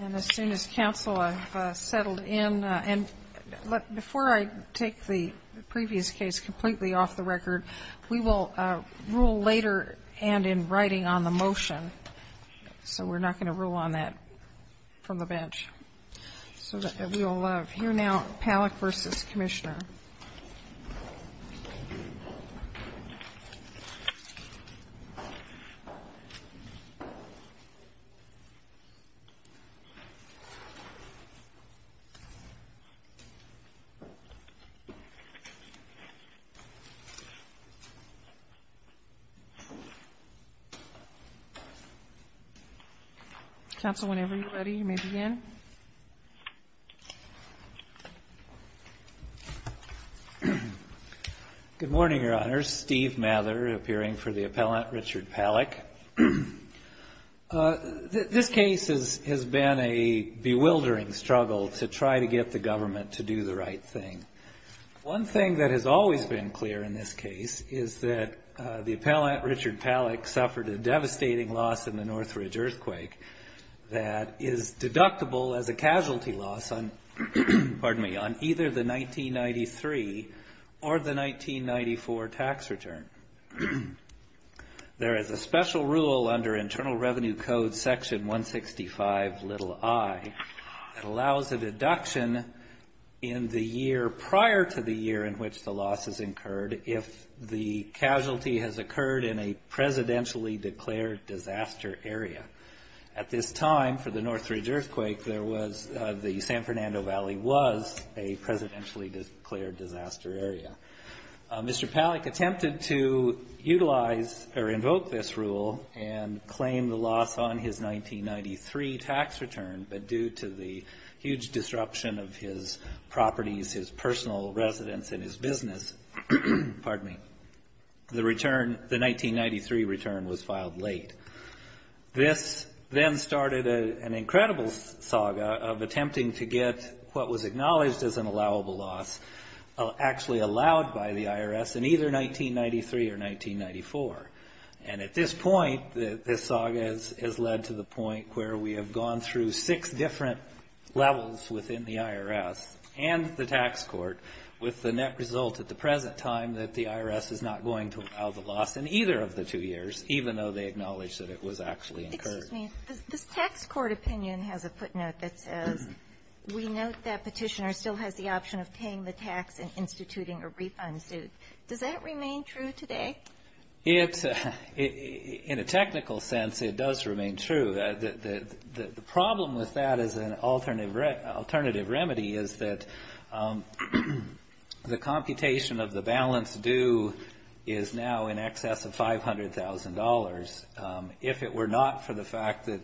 And as soon as counsel settled in and before I take the previous case completely off the record we will rule later and in writing on the motion so we're not going to rule on that from the bench so that we will have here now PALLACK v. COMM. PALLACK v. COMM. Good morning, your honors. Steve Mather appearing for the appellant Richard Pallack. This case has been a bewildering struggle to try to get the government to do the right thing. One thing that has always been clear in this case is that the appellant Richard Pallack suffered a devastating loss in the Northridge earthquake that is deductible as a casualty loss on either the 1993 or the 1994 tax return. There is a special rule under Internal Revenue Code section 165 little I that allows a deduction in the year prior to the year in which the loss is incurred if the casualty has occurred in a presidentially declared disaster area. At this time for the Northridge earthquake there was the San Fernando Valley was a presidentially declared disaster area. Mr. Pallack attempted to utilize or invoke this rule and claim the loss on his 1993 tax return but due to the huge This then started an incredible saga of attempting to get what was acknowledged as an allowable loss actually allowed by the IRS in either 1993 or 1994. And at this point this saga has led to the point where we have gone through six different levels within the IRS and the tax court with the net result at the present time that the IRS is not going to allow the loss in either of the two years, even though they acknowledge that it was actually incurred. This tax court opinion has a footnote that says, we note that petitioner still has the option of paying the tax and instituting a refund suit. Does that remain true today? In a technical sense it does remain true. The problem with that as an alternative remedy is that the computation of the balance due is now in excess of $500,000. If it were not for the fact that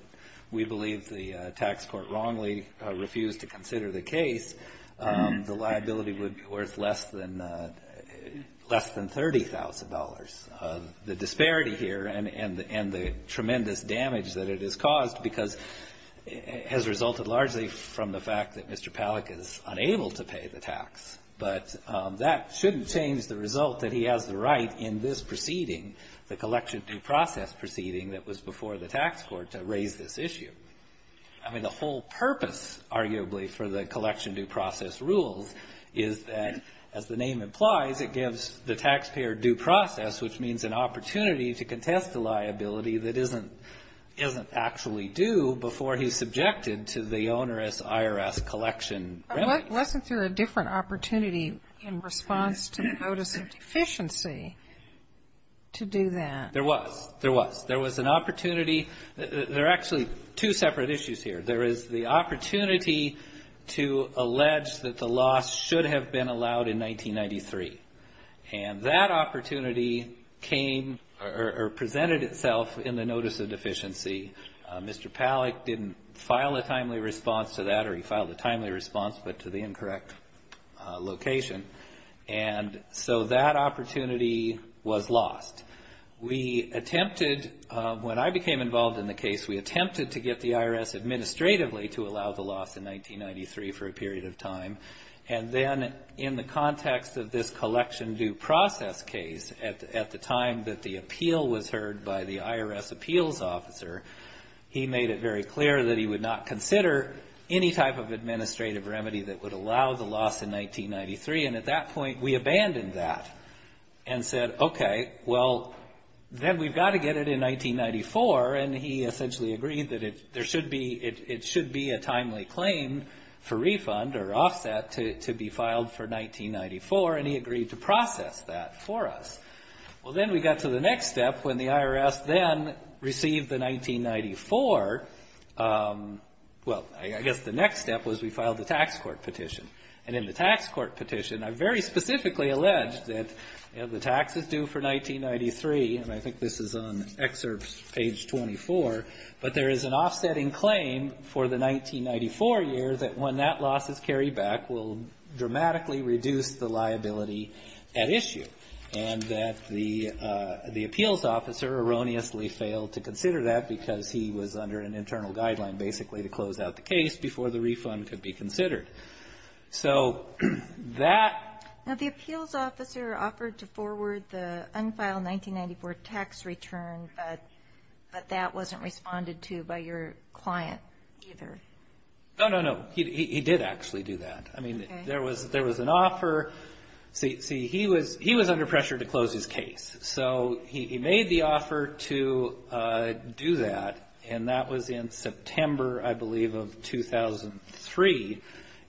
we believe the tax court wrongly refused to consider the case, the liability would be worth less than $30,000. The disparity here and the tremendous damage that it has caused has resulted largely from the fact that Mr. Pallack is the right in this proceeding, the collection due process proceeding that was before the tax court to raise this issue. I mean the whole purpose arguably for the collection due process rules is that, as the name implies, it gives the taxpayer due process, which means an opportunity to contest the liability that isn't actually due before he's subjected to the onerous IRS collection remedy. Wasn't there a different opportunity in response to the notice of deficiency to do that? There was. There was. There was an opportunity. There are actually two separate issues here. There is the opportunity to allege that the loss should have been allowed in 1993. And that opportunity came or presented itself in the notice of deficiency. Mr. Pallack didn't file a timely response but to the incorrect location. And so that opportunity was lost. We attempted, when I became involved in the case, we attempted to get the IRS administratively to allow the loss in 1993 for a period of time. And then in the context of this collection due process case, at the time that the appeal was heard by the IRS appeals officer, he made it very clear that he would not consider any type of administrative remedy that would allow the loss in 1993. And at that point, we abandoned that and said, okay, well, then we've got to get it in 1994. And he essentially agreed that there should be, it should be a timely claim for refund or offset to be filed for 1994. And he agreed to process that for us. Well, then we got to the next step when the IRS then received the 1994, well, I guess the next step was we filed the tax court petition. And in the tax court petition, I very specifically alleged that, you know, the tax is due for 1993, and I think this is on excerpt page 24, but there is an offsetting claim for the 1994 year that when that loss is carried back will dramatically reduce the liability at issue. And that the appeals officer erroneously failed to consider that because he was under an internal guideline, basically, to close out the case before the refund could be considered. So that Now, the appeals officer offered to forward the unfiled 1994 tax return, but that wasn't responded to by your client, either. No, no, no, he did actually do that. I mean, there was there was an offer. See, he was he was under pressure to close his case. So he made the offer to do that. And that was in September, I believe, of 2003.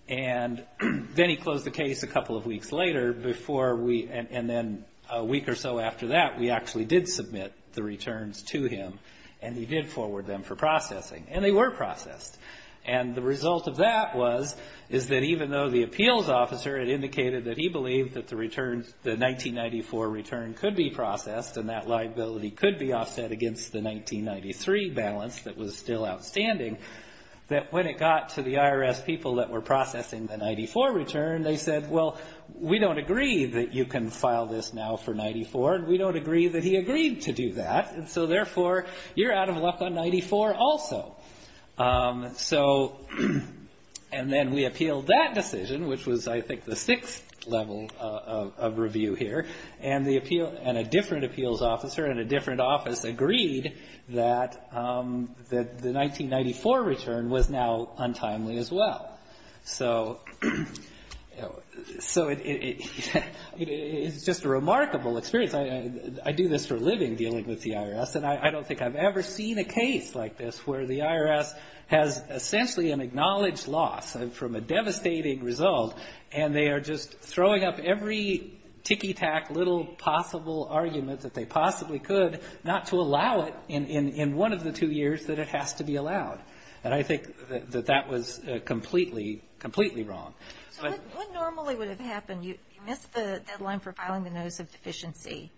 And then he closed the case a couple of weeks later before we and then a week or so after that, we actually did submit the returns to him and he did forward them for processing. And they were processed. And the result of that was is that even though the appeals officer had indicated that he believed that the returns the 1994 return could be processed and that liability could be offset against the 1993 balance that was still outstanding, that when it got to the IRS people that were processing the 94 return, they said, well, we don't agree that you can file this now for 94. And we don't agree that he agreed to do that. And so therefore, you're out of luck on 94 also. So and then we appealed that decision, which was, I think, the sixth level of review here. And the appeal and a different appeals officer and a different office agreed that that the 1994 return was now untimely as well. So it's just a remarkable experience. I do this for a living, dealing with the IRS, and I don't think I've ever seen a case like this where the IRS has essentially an acknowledged loss from a devastating result, and they are just throwing up every ticky-tack little possible argument that they possibly could not to allow it in one of the two years that it has to be allowed. And I think that that was completely, completely wrong. So what normally would have happened, you missed the deadline for filing the notice of deficiency.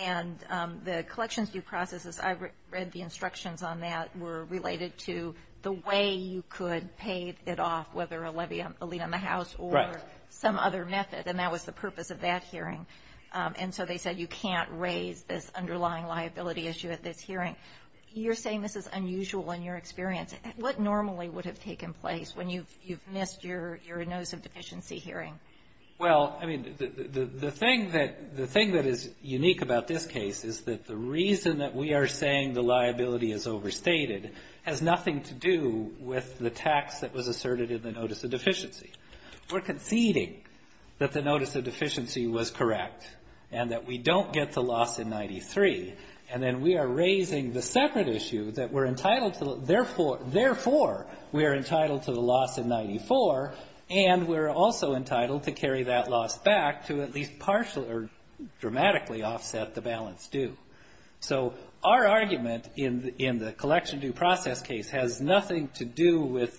And the collections due process, as I read the instructions on that, were related to the way you could pay it off, whether a levy on the house or some other method. And that was the purpose of that hearing. And so they said you can't raise this underlying liability issue at this hearing. You're saying this is unusual in your experience. What normally would have taken place when you've missed your notice of deficiency hearing? Well, I mean, the thing that is unique about this case is that the reason that we are saying the liability is overstated has nothing to do with the tax that was asserted in the notice of deficiency. We're conceding that the notice of deficiency was correct and that we don't get the loss in 93, and then we are raising the separate issue that we're entitled to, therefore, we are entitled to the loss in 94, and we're also entitled to carry that loss back to at least partially or dramatically offset the balance due. So our argument in the collection due process case has nothing to do with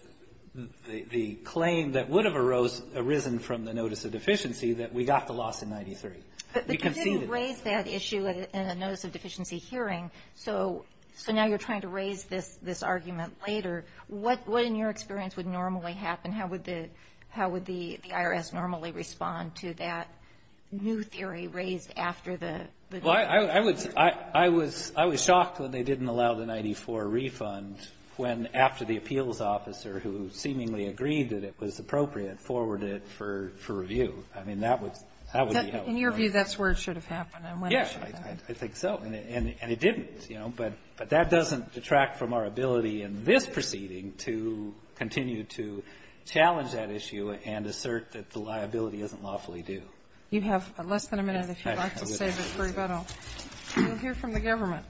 the claim that would have arisen from the notice of deficiency that we got the loss in 93. But you didn't raise that issue in a notice of deficiency hearing, so now you're trying to raise this argument later. What, in your experience, would normally happen? How would the IRS normally respond to that new theory raised after the? Well, I was shocked when they didn't allow the 94 refund when after the appeals officer, who seemingly agreed that it was appropriate, forwarded it for review. I mean, that would be helpful. In your view, that's where it should have happened. Yes, I think so. And it didn't, you know. But that doesn't detract from our ability in this proceeding to continue to challenge that issue and assert that the liability isn't lawfully due. You have less than a minute, if you'd like, to save it for rebuttal. You'll hear from the government.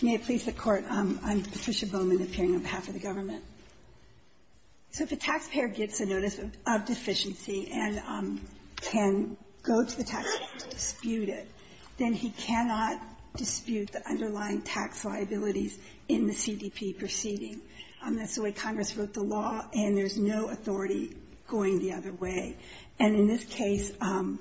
May it please the Court. I'm Patricia Bowman, appearing on behalf of the government. So if a taxpayer gets a notice of deficiency and can go to the taxpayer to dispute it, then he cannot dispute the underlying tax liabilities in the CDP proceeding. That's the way Congress wrote the law, and there's no authority going the other way. And in this case, the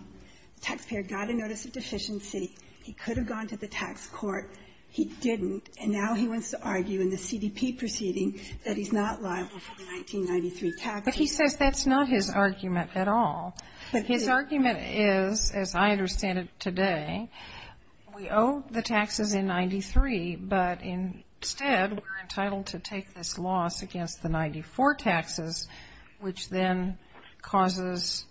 taxpayer got a notice of deficiency. He could have gone to the tax court. He didn't. And now he wants to argue in the CDP proceeding that he's not liable for the 1993 tax. But he says that's not his argument at all. But his argument is, as I understand it today, we owe the taxes in 93, but instead we're entitled to take this loss against the 94 taxes, which then causes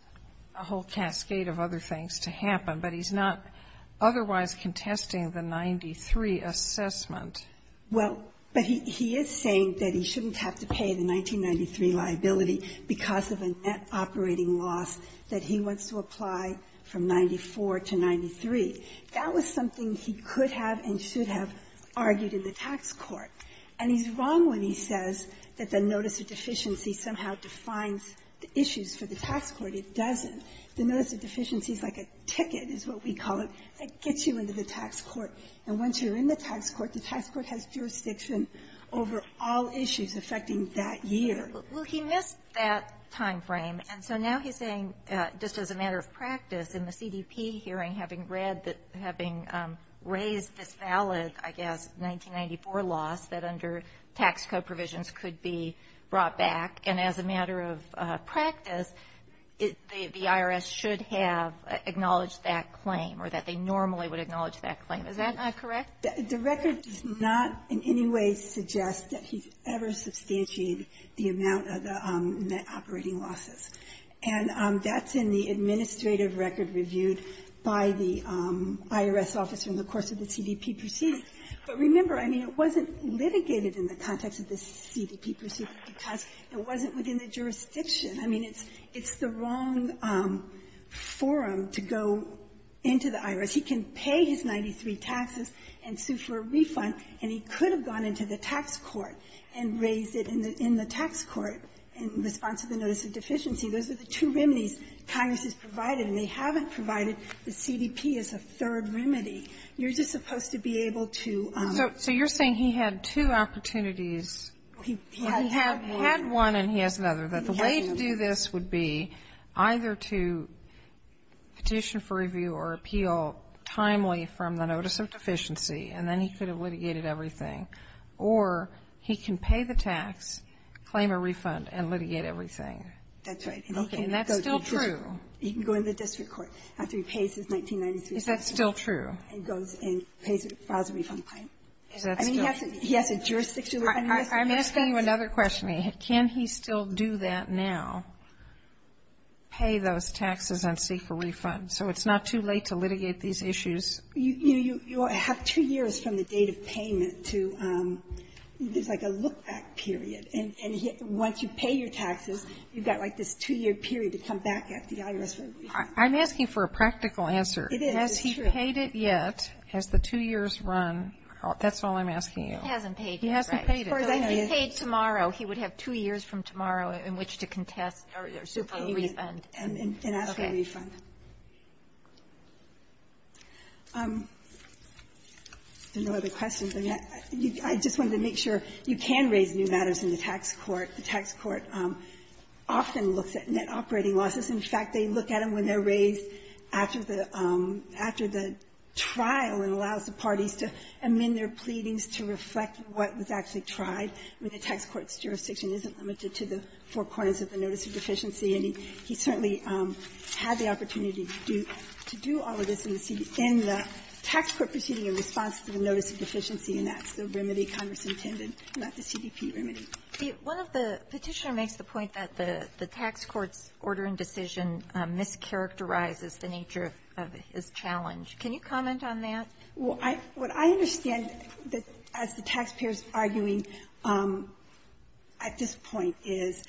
a whole cascade of other things to happen. But he's not otherwise contesting the 93 assessment. Well, but he is saying that he shouldn't have to pay the 1993 liability because of a net operating loss that he wants to apply from 94 to 93. That was something he could have and should have argued in the tax court. And he's wrong when he says that the notice of deficiency somehow defines the issues for the tax court. It doesn't. The notice of deficiency is like a ticket, is what we call it, that gets you into the tax court. And once you're in the tax court, the tax court has jurisdiction over all issues affecting that year. Well, he missed that time frame. And so now he's saying, just as a matter of practice, in the CDP hearing, having read that having raised this valid, I guess, 1994 loss that under tax code provisions could be brought back, and as a matter of practice, the IRS should have acknowledged that claim or that they normally would acknowledge that claim. Is that correct? The record does not in any way suggest that he ever substantiated the amount of the net operating losses. And that's in the administrative record reviewed by the IRS officer in the course of the CDP proceedings. But remember, I mean, it wasn't litigated in the context of the CDP proceedings because it wasn't within the jurisdiction. He can pay his 93 taxes and sue for a refund, and he could have gone into the tax court and raised it in the tax court in response to the notice of deficiency. Those are the two remedies Congress has provided, and they haven't provided the CDP as a third remedy. You're just supposed to be able to um So you're saying he had two opportunities. He had one and he has another. That the way to do this would be either to petition for review or appeal timely from the notice of deficiency, and then he could have litigated everything, or he can pay the tax, claim a refund, and litigate everything. That's right. And he can go to the district court. And that's still true. He can go into the district court after he pays his 93 taxes. Is that still true? And goes and pays it, files a refund plan. I mean, he has to he has a jurisdiction to do this. I'm asking you another question. Can he still do that now, pay those taxes and seek a refund? So it's not too late to litigate these issues? You have two years from the date of payment to, there's like a look-back period. And once you pay your taxes, you've got like this two-year period to come back at the IRS for a refund. I'm asking for a practical answer. It is. It's true. Has he paid it yet? Has the two years run? That's all I'm asking you. He hasn't paid it. He hasn't paid it. So if he paid tomorrow, he would have two years from tomorrow in which to contest or seek a refund. And ask for a refund. Okay. There are no other questions. I just wanted to make sure. You can raise new matters in the tax court. The tax court often looks at net operating losses. In fact, they look at them when they're raised after the trial and allows the parties to amend their pleadings to reflect what was actually tried. I mean, the tax court's jurisdiction isn't limited to the four corners of the notice of deficiency, and he certainly had the opportunity to do all of this in the tax court proceeding in response to the notice of deficiency, and that's the remedy Congress intended, not the CDP remedy. One of the Petitioner makes the point that the tax court's order and decision mischaracterizes the nature of his challenge. Can you comment on that? What I understand as the taxpayers arguing at this point is,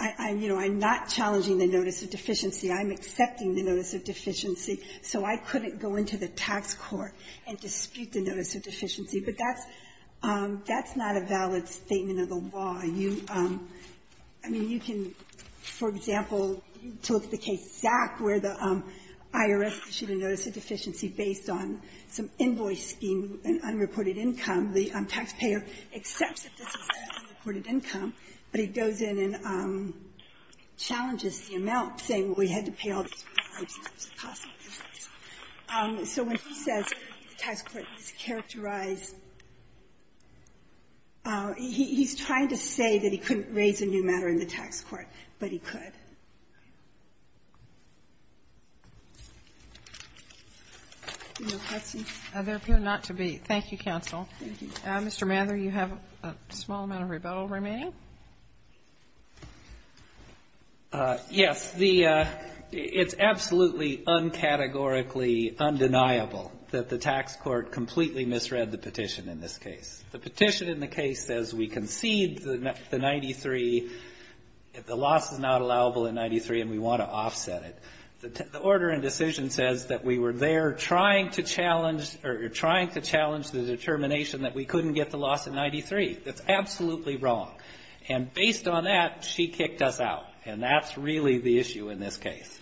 you know, I'm not challenging the notice of deficiency. I'm accepting the notice of deficiency. So I couldn't go into the tax court and dispute the notice of deficiency. But that's not a valid statement of the law. I mean, you can, for example, look at the case of Zach, where the IRS issued a notice of deficiency based on some invoice scheme, an unreported income. The taxpayer accepts that this is an unreported income, but he goes in and challenges the amount, saying, well, we had to pay all these prices because it was a costly business. So when he says the tax court mischaracterized, he's trying to say that he couldn't raise a new matter in the tax court, but he could. They're appearing not to be. Thank you, counsel. Mr. Mather, you have a small amount of rebuttal remaining. Yes. The It's absolutely uncategorically undeniable that the tax court completely misread the petition in this case. The petition in the case says we concede the 93, the loss is not allowable in 93, and we want to offset it. The order in decision says that we were there trying to challenge or trying to challenge the determination that we couldn't get the loss at 93. That's absolutely wrong. And based on that, she kicked us out. And that's really the issue in this case.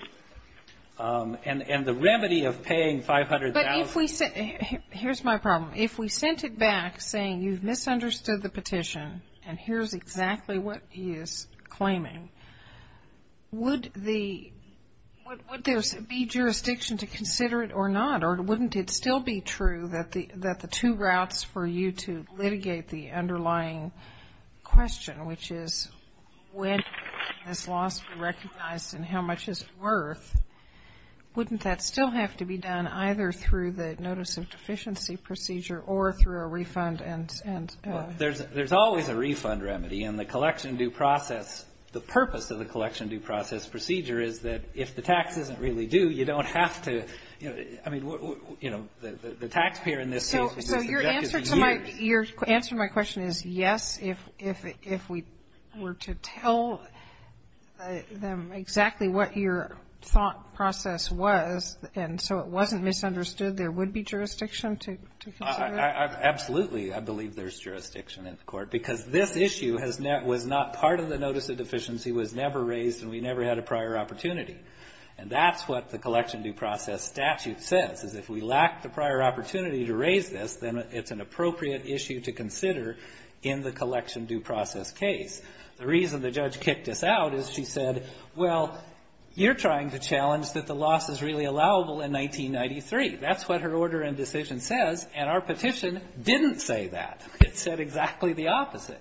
And the remedy of paying 500,000 to the IRS is to say, well, we're going to offset the loss. I mean, you've misunderstood the petition, and here's exactly what he is claiming. Would there be jurisdiction to consider it or not, or wouldn't it still be true that the two routes for you to litigate the underlying question, which is when is loss recognized and how much is it worth, wouldn't that still have to be done either through the notice of deficiency procedure or through a refund and so on? Well, there's always a refund remedy. And the collection due process, the purpose of the collection due process procedure is that if the tax isn't really due, you don't have to, you know, I mean, you know, the taxpayer in this case is subject to the duty. So your answer to my question is yes, if we were to tell them exactly what your thought was, and so it wasn't misunderstood, there would be jurisdiction to consider it? Absolutely. I believe there's jurisdiction in the Court, because this issue was not part of the notice of deficiency, was never raised, and we never had a prior opportunity. And that's what the collection due process statute says, is if we lack the prior opportunity to raise this, then it's an appropriate issue to consider in the collection due process case. The reason the judge kicked us out is she said, well, you're trying to challenge us that the loss is really allowable in 1993. That's what her order and decision says, and our petition didn't say that. It said exactly the opposite.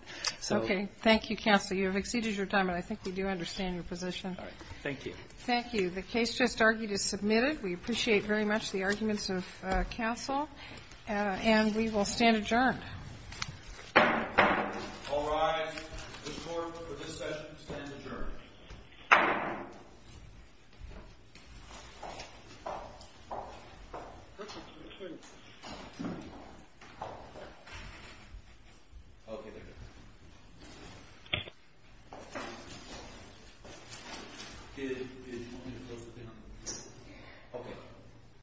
Okay. Thank you, counsel. You have exceeded your time, and I think we do understand your position. All right. Thank you. Thank you. The case just argued is submitted. We appreciate very much the arguments of counsel, and we will stand adjourned. All rise. The Court for this session stands adjourned.